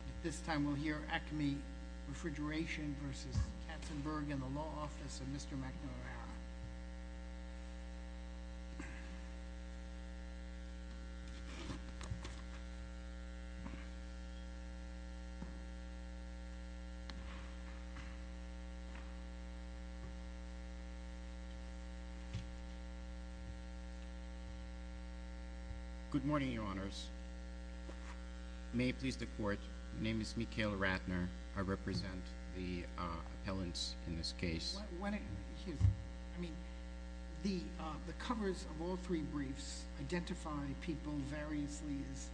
At this time, we'll hear Acme Refrigeration v. Katzenberg in the Law Office of Mr. McNamara. Mr. McNamara. Good morning, Your Honors. May it please the Court, my name is Mikhail Ratner. I represent the appellants in this case. Excuse me. I mean, the covers of all three briefs identify people variously as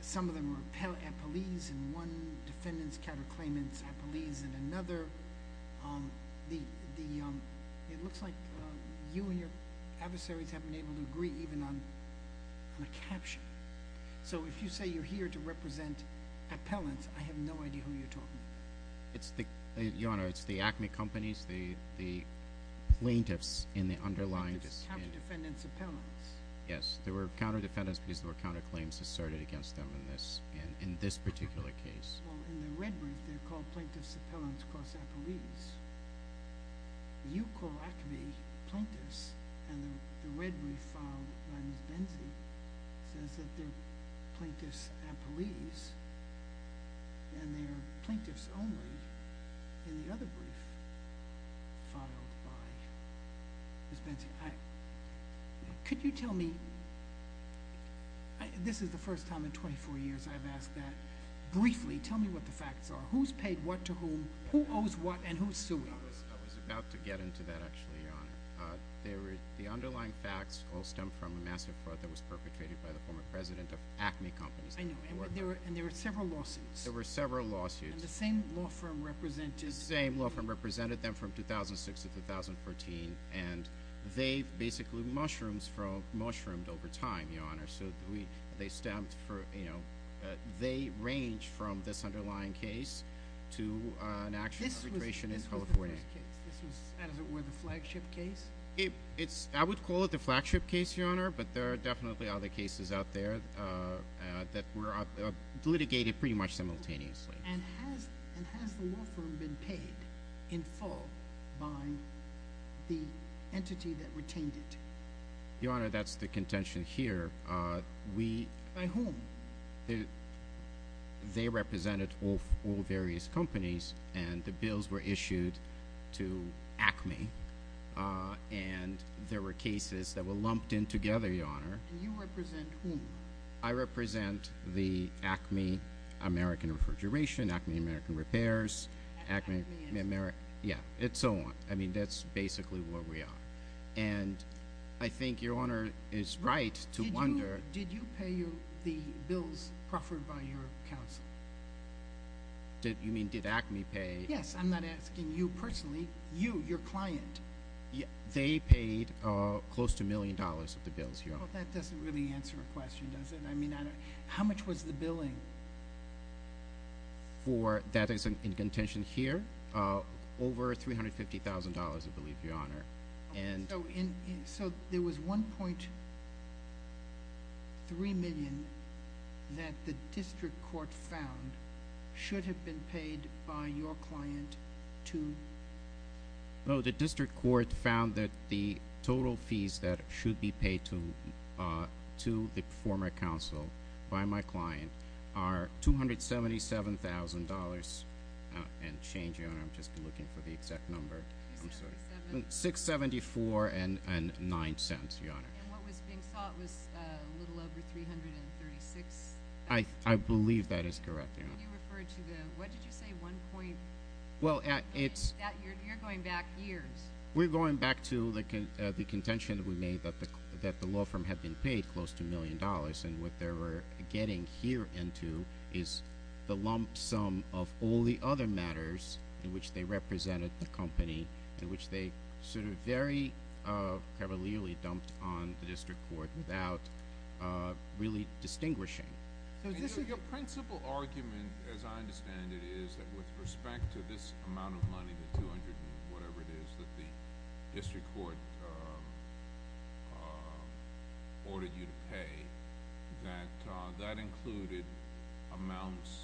some of them are appellees in one, defendants, counterclaimants, appellees in another. It looks like you and your adversaries have been able to agree even on a caption. So if you say you're here to represent appellants, I have no idea who you're talking about. Your Honor, it's the Acme companies, the plaintiffs in the underlying... Plaintiffs, counter-defendants, appellants. Yes, there were counter-defendants because there were counterclaims asserted against them in this particular case. Well, in the red brief they're called plaintiffs, appellants, cross-appellees. You call Acme plaintiffs and the red brief filed by Ms. Benzie says that they're plaintiffs appellees and they're plaintiffs only in the other brief filed by Ms. Benzie. Could you tell me... This is the first time in 24 years I've asked that. Briefly, tell me what the facts are. Who's paid what to whom, who owes what, and who's suing? I was about to get into that actually, Your Honor. The underlying facts all stem from a massive fraud that was perpetrated by the former president of Acme companies. I know, and there were several lawsuits. There were several lawsuits. And the same law firm represented... The same law firm represented them from 2006 to 2014 and they've basically mushroomed over time, Your Honor. They range from this underlying case to an actual arbitration in California. This was the first case. This was, as it were, the flagship case? I would call it the flagship case, Your Honor, but there are definitely other cases out there that were litigated pretty much simultaneously. And has the law firm been paid in full by the entity that retained it? Your Honor, that's the contention here. We... By whom? They represented all various companies and the bills were issued to Acme and there were cases that were lumped in together, Your Honor. And you represent whom? I represent the Acme American Refrigeration, Acme American Repairs... Acme American... Yeah, and so on. I mean, that's basically where we are. And I think Your Honor is right to wonder... Did you pay the bills proffered by your counsel? You mean, did Acme pay? Yes. I'm not asking you personally. You, your client. They paid close to a million dollars of the bills, Your Honor. Well, that doesn't really answer the question, does it? I mean, how much was the billing? For that is in contention here, over $350,000, I believe, Your Honor. So there was $1.3 million that the district court found should have been paid by your client to... $277,000 and change, Your Honor. I'm just looking for the exact number. $674.09, Your Honor. And what was being sought was a little over $336,000. I believe that is correct, Your Honor. And you referred to the... What did you say? One point... Well, it's... You're going back years. We're going back to the contention that we made that the law firm had been paid close to a million dollars and what they were getting here into is the lump sum of all the other matters in which they represented the company and which they sort of very cavalierly dumped on the district court without really distinguishing. Your principal argument, as I understand it, is that with respect to this amount of money, the $200 and whatever it is that the district court ordered you to pay, that that included amounts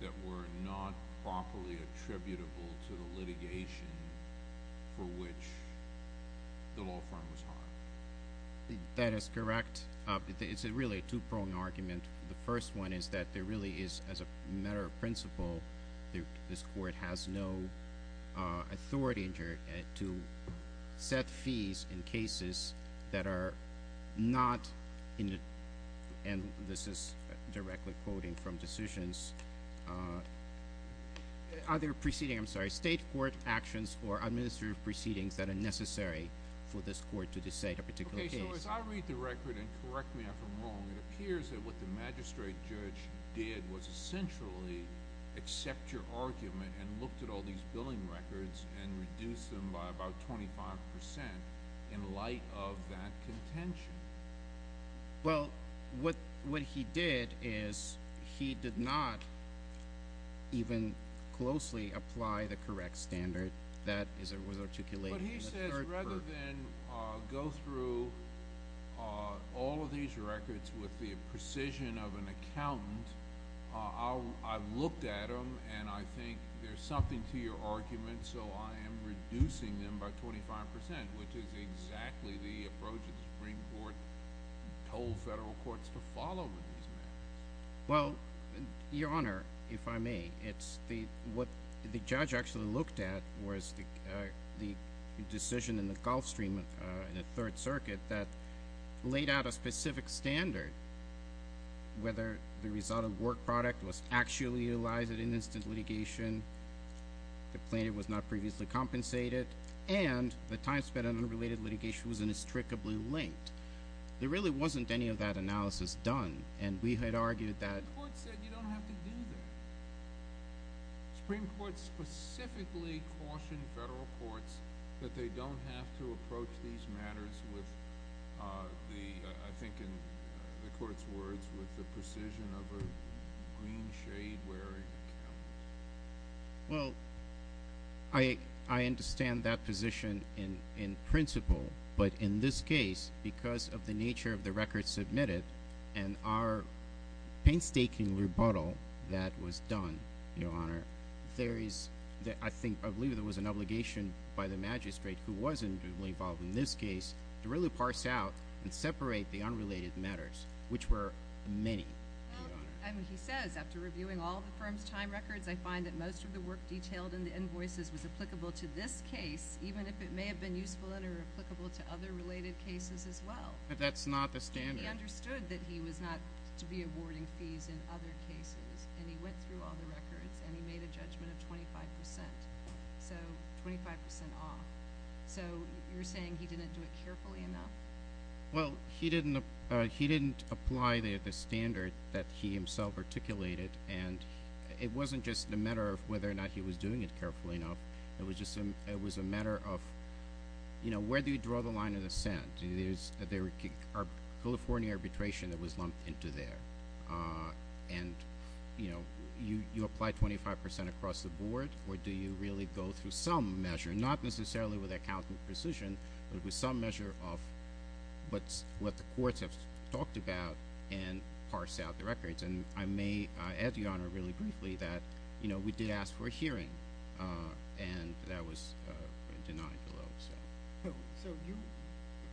that were not properly attributable to the litigation for which the law firm was harmed. That is correct. It's really a two-prong argument. The first one is that there really is, as a matter of principle, this court has no authority to set fees in cases that are not, and this is directly quoting from decisions, other proceeding, I'm sorry, state court actions or administrative proceedings that are necessary for this court to decide a particular case. So as I read the record, and correct me if I'm wrong, it appears that what the magistrate judge did was essentially accept your argument and looked at all these billing records and reduced them by about 25% in light of that contention. Well, what he did is he did not even closely apply the correct standard. That was articulated in the third verdict. Rather than go through all of these records with the precision of an accountant, I've looked at them, and I think there's something to your argument, so I am reducing them by 25%, which is exactly the approach the Supreme Court told federal courts to follow with these matters. Well, Your Honor, if I may, what the judge actually looked at was the decision in the Gulf Stream in the Third Circuit that laid out a specific standard, whether the result of work product was actually utilized in instant litigation, the plaintiff was not previously compensated, and the time spent on unrelated litigation was inextricably linked. There really wasn't any of that analysis done, and we had argued that The Supreme Court said you don't have to do that. The Supreme Court specifically cautioned federal courts that they don't have to approach these matters with, I think in the Court's words, with the precision of a green-shade-weary accountant. Well, I understand that position in principle, but in this case, because of the nature of the records submitted and our painstaking rebuttal that was done, Your Honor, there is, I believe it was an obligation by the magistrate, who wasn't involved in this case, to really parse out and separate the unrelated matters, which were many, Your Honor. Well, he says, after reviewing all the firm's time records, I find that most of the work detailed in the invoices was applicable to this case, even if it may have been useful and or applicable to other related cases as well. But that's not the standard. Well, he understood that he was not to be awarding fees in other cases, and he went through all the records, and he made a judgment of 25 percent, so 25 percent off. So you're saying he didn't do it carefully enough? Well, he didn't apply the standard that he himself articulated, and it wasn't just a matter of whether or not he was doing it carefully enough. It was a matter of, you know, where do you draw the line of dissent? Is there a California arbitration that was lumped into there? And, you know, you apply 25 percent across the board, or do you really go through some measure, not necessarily with accountant precision, but with some measure of what the courts have talked about and parse out the records? And I may add, Your Honor, really briefly that, you know, we did ask for a hearing, and that was denied below. So you,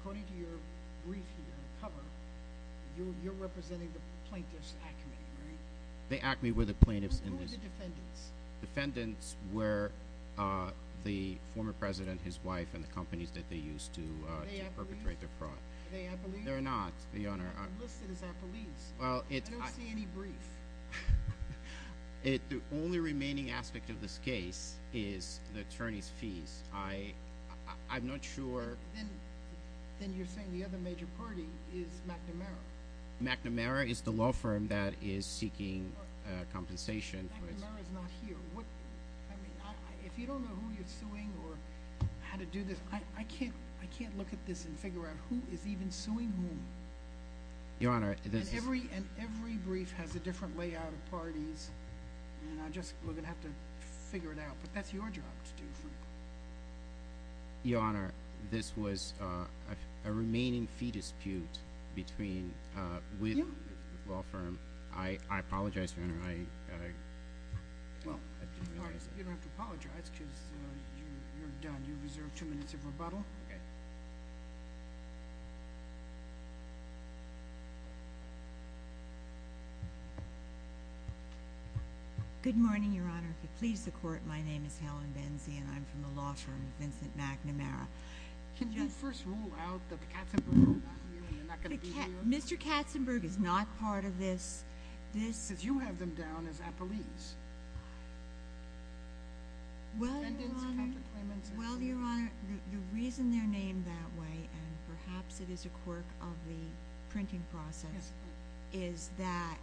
according to your brief here on the cover, you're representing the plaintiff's acme, right? The acme were the plaintiffs in this. Who were the defendants? Defendants were the former president, his wife, and the companies that they used to perpetrate the fraud. Are they appellees? They're not, Your Honor. They're listed as appellees. I don't see any brief. The only remaining aspect of this case is the attorney's fees. I'm not sure. Then you're saying the other major party is McNamara. McNamara is the law firm that is seeking compensation. McNamara is not here. I mean, if you don't know who you're suing or how to do this, I can't look at this and figure out who is even suing whom. Your Honor, this is And every brief has a different layout of parties, and we're going to have to figure it out. But that's your job to do, Frank. Your Honor, this was a remaining fee dispute with the law firm. I apologize, Your Honor. You don't have to apologize because you're done. You reserve two minutes of rebuttal. Okay. Good morning, Your Honor. If you'll please the Court, my name is Helen Benzie, and I'm from the law firm of Vincent McNamara. Can you first rule out that Katzenberg is not here and they're not going to be here? Mr. Katzenberg is not part of this. Because you have them down as appellees. Well, Your Honor, the reason they're named that way, and perhaps it is a quirk of the printing press, is that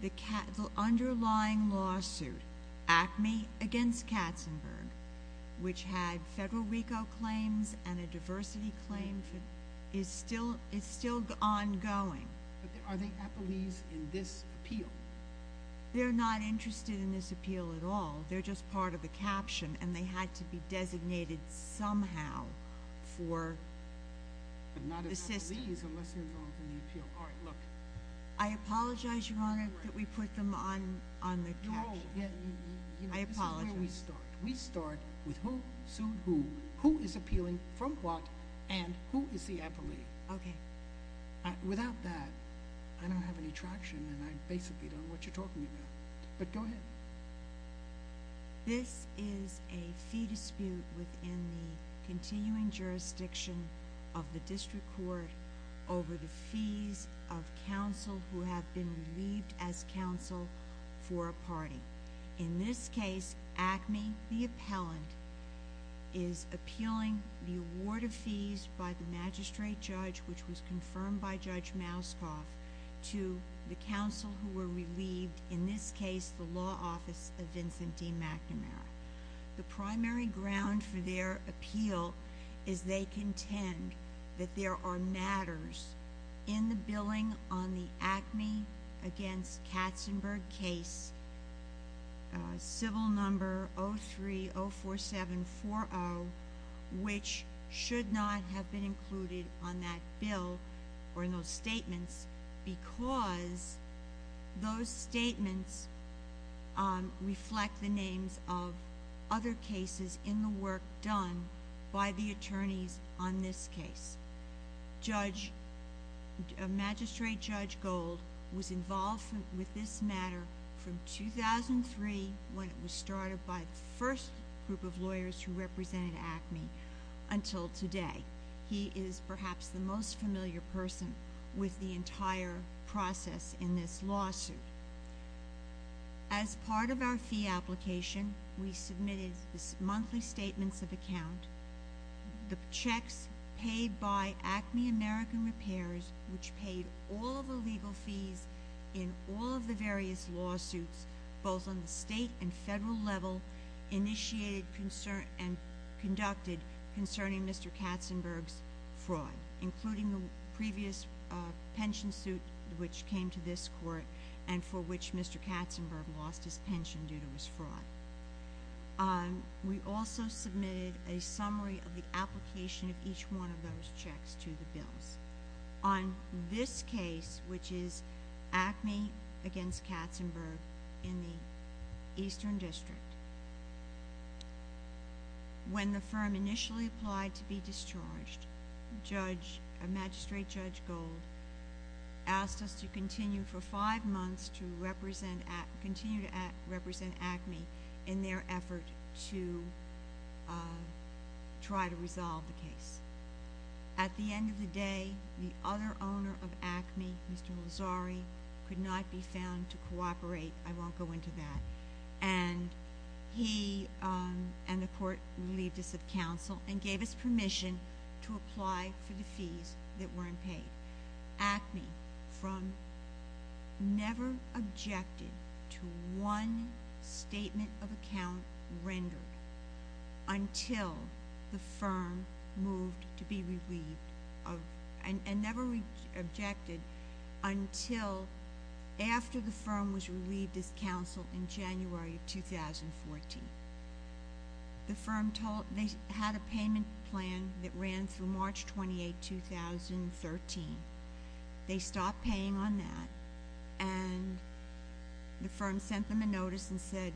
the underlying lawsuit, ACME against Katzenberg, which had federal RICO claims and a diversity claim, is still ongoing. But are they appellees in this appeal? They're not interested in this appeal at all. They're just part of the caption, and they had to be designated somehow for the system. But not as appellees unless they're involved in the appeal. All right, look. I apologize, Your Honor, that we put them on the caption. I apologize. This is where we start. We start with who sued who, who is appealing from what, and who is the appellee. Okay. Without that, I don't have any traction, and I basically don't know what you're talking about. But go ahead. This is a fee dispute within the continuing jurisdiction of the district court over the fees of counsel who have been relieved as counsel for a party. In this case, ACME, the appellant, is appealing the award of fees by the magistrate judge, which was confirmed by Judge Mouskoff, to the counsel who were relieved, in this case, the law office of Vincent D. McNamara. The primary ground for their appeal is they contend that there are matters in the billing on the ACME against Katzenberg case, civil number 03-04740, which should not have been included on that bill or in those statements because those statements reflect the names of other cases in the work done by the attorneys on this case. Magistrate Judge Gold was involved with this matter from 2003 when it was started by the first group of lawyers who represented ACME until today. He is perhaps the most familiar person with the entire process in this lawsuit. As part of our fee application, we submitted monthly statements of account, the checks paid by ACME American Repairs, which paid all the legal fees in all of the various lawsuits, both on the state and federal level, initiated and conducted concerning Mr. Katzenberg's fraud, including the previous pension suit which came to this court and for which Mr. Katzenberg lost his pension due to his fraud. We also submitted a summary of the application of each one of those checks to the bills. On this case, which is ACME against Katzenberg in the Eastern District, when the firm initially applied to be discharged, Magistrate Judge Gold asked us to continue for five months to continue to represent ACME in their effort to try to resolve the case. At the end of the day, the other owner of ACME, Mr. Mazzari, could not be found to cooperate. I won't go into that. And he and the court relieved us of counsel and gave us permission to apply for the fees that weren't paid. ACME from never objected to one statement of account rendered until the firm moved to be relieved of and never objected until after the firm was relieved of counsel in January of 2014. They had a payment plan that ran through March 28, 2013. They stopped paying on that, and the firm sent them a notice and said,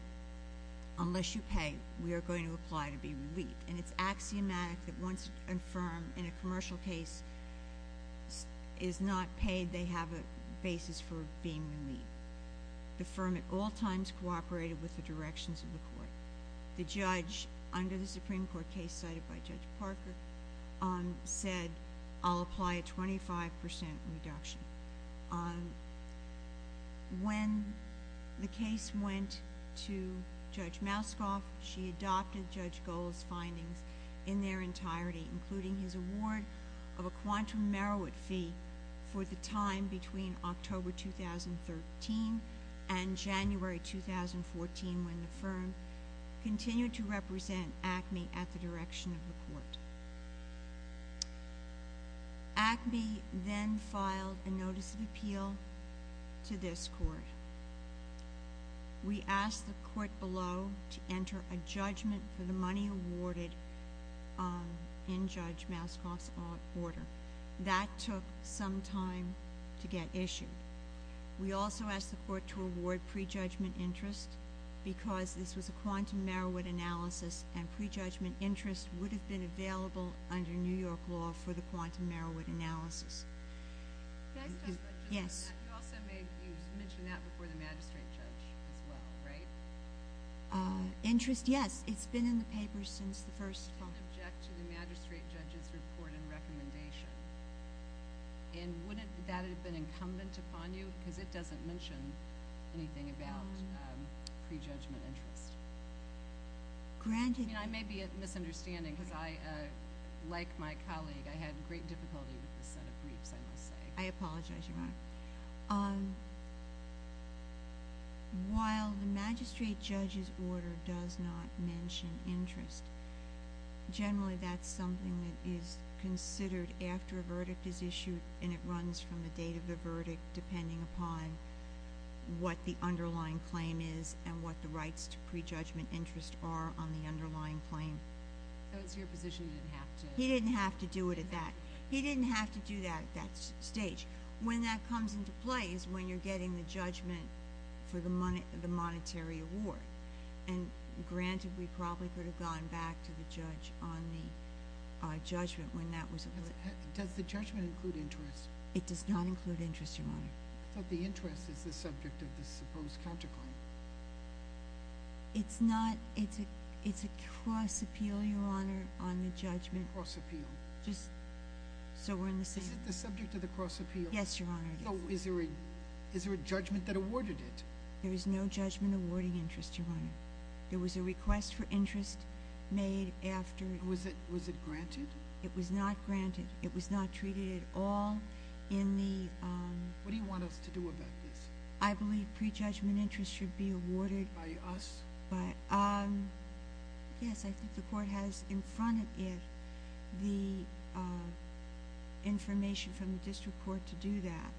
unless you pay, we are going to apply to be relieved. And it's axiomatic that once a firm in a commercial case is not paid, they have a basis for being relieved. The firm at all times cooperated with the directions of the court. The judge under the Supreme Court case cited by Judge Parker said, I'll apply a 25 percent reduction. When the case went to Judge Mouskoff, she adopted Judge Gold's findings in their entirety, including his award of a quantum merit fee for the time between October 2013 and January 2014, when the firm continued to represent ACME at the direction of the court. ACME then filed a notice of appeal to this court. We asked the court below to enter a judgment for the money awarded in Judge Mouskoff's order. That took some time to get issued. We also asked the court to award prejudgment interest because this was a quantum merit analysis, and prejudgment interest would have been available under New York law for the quantum merit analysis. Can I ask a question on that? Yes. You also mentioned that before the magistrate judge as well, right? Interest, yes. It's been in the paper since the first… You didn't object to the magistrate judge's report and recommendation. And wouldn't that have been incumbent upon you? Because it doesn't mention anything about prejudgment interest. I may be misunderstanding because, like my colleague, I had great difficulty with this set of briefs, I must say. I apologize, Your Honor. While the magistrate judge's order does not mention interest, generally that's something that is considered after a verdict is issued and it runs from the date of the verdict depending upon what the underlying claim is and what the rights to prejudgment interest are on the underlying claim. So it's your position you didn't have to… He didn't have to do it at that. He didn't have to do that at that stage. When that comes into play is when you're getting the judgment for the monetary award. And granted, we probably could have gone back to the judge on the judgment when that was… Does the judgment include interest? It does not include interest, Your Honor. I thought the interest is the subject of the supposed counterclaim. It's not. It's a cross appeal, Your Honor, on the judgment. Cross appeal. Just so we're in the same… Is it the subject of the cross appeal? Yes, Your Honor, it is. So is there a judgment that awarded it? There is no judgment awarding interest, Your Honor. There was a request for interest made after… Was it granted? It was not granted. It was not treated at all in the… What do you want us to do about this? I believe prejudgment interest should be awarded… By us? Yes, I think the court has in front of it the information from the district court to do that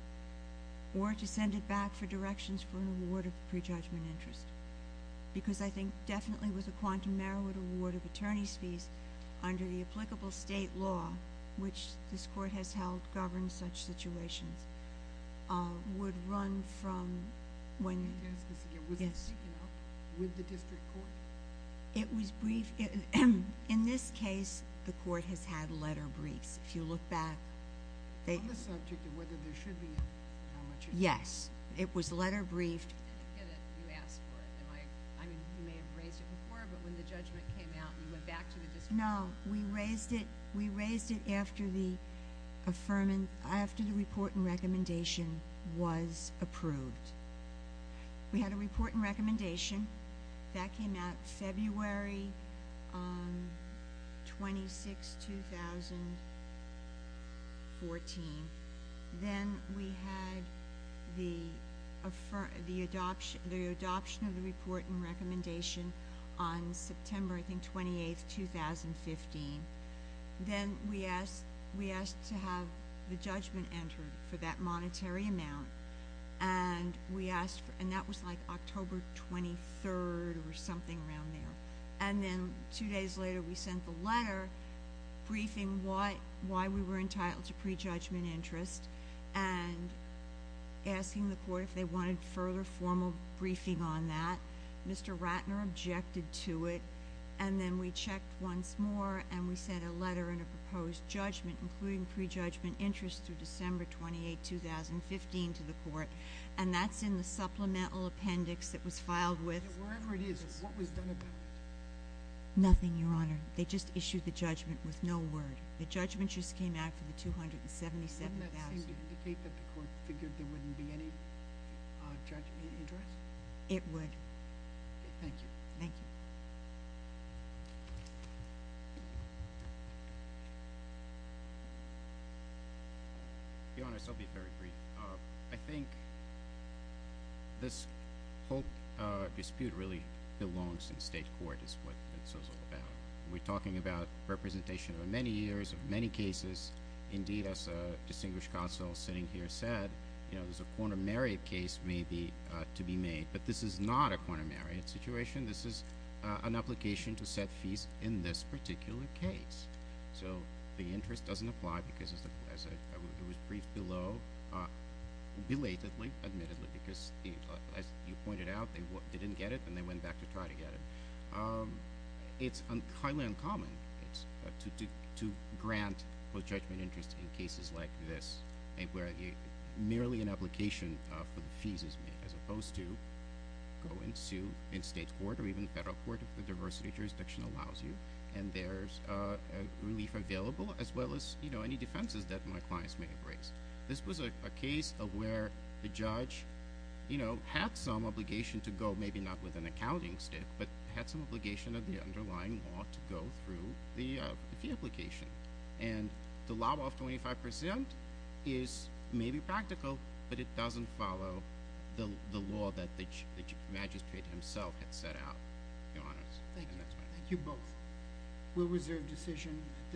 or to send it back for directions for an award of prejudgment interest because I think definitely with a quantum merit award of attorney's fees under the applicable state law, which this court has held governs such situations, would run from when… Can I ask this again? Yes. Was it taken out with the district court? It was briefed. In this case, the court has had letter briefs. If you look back… On the subject of whether there should be a… Yes, it was letter briefed. I didn't get it. You asked for it. I mean, you may have raised it before, but when the judgment came out, you went back to the district court. No, we raised it after the report and recommendation was approved. We had a report and recommendation. That came out February 26, 2014. Then we had the adoption of the report and recommendation on September, I think, 28, 2015. Then we asked to have the judgment entered for that monetary amount, and that was like October 23 or something around there. Two days later, we sent the letter briefing why we were entitled to prejudgment interest and asking the court if they wanted further formal briefing on that. Mr. Ratner objected to it, and then we checked once more, and we sent a letter and a proposed judgment, including prejudgment interest through December 28, 2015, to the court. That's in the supplemental appendix that was filed with… Wherever it is, what was done about it? Nothing, Your Honor. They just issued the judgment with no word. The judgment just came out for the $277,000. Doesn't that seem to indicate that the court figured there wouldn't be any judgment interest? It would. Okay. Thank you. Thank you. Your Honor, I'll still be very brief. I think this whole dispute really belongs in state court, is what this is all about. We're talking about representation of many years, of many cases. Indeed, as a distinguished counsel sitting here said, there's a quaternary case maybe to be made, but this is not a quaternary situation. This is an application to set fees in this particular case. So the interest doesn't apply because, as it was briefed below, belatedly, admittedly, because as you pointed out, they didn't get it, and they went back to try to get it. It's highly uncommon to grant pro-judgment interest in cases like this, where merely an application for the fees is made, as opposed to go and sue in state court, or even federal court if the diversity jurisdiction allows you, and there's relief available, as well as any defenses that my clients may have raised. This was a case of where the judge had some obligation to go, maybe not with an accounting stick, but had some obligation of the underlying law to go through the fee application. And the law of 25% is maybe practical, but it doesn't follow the law that the magistrate himself had set out. Thank you both. We'll reserve decision.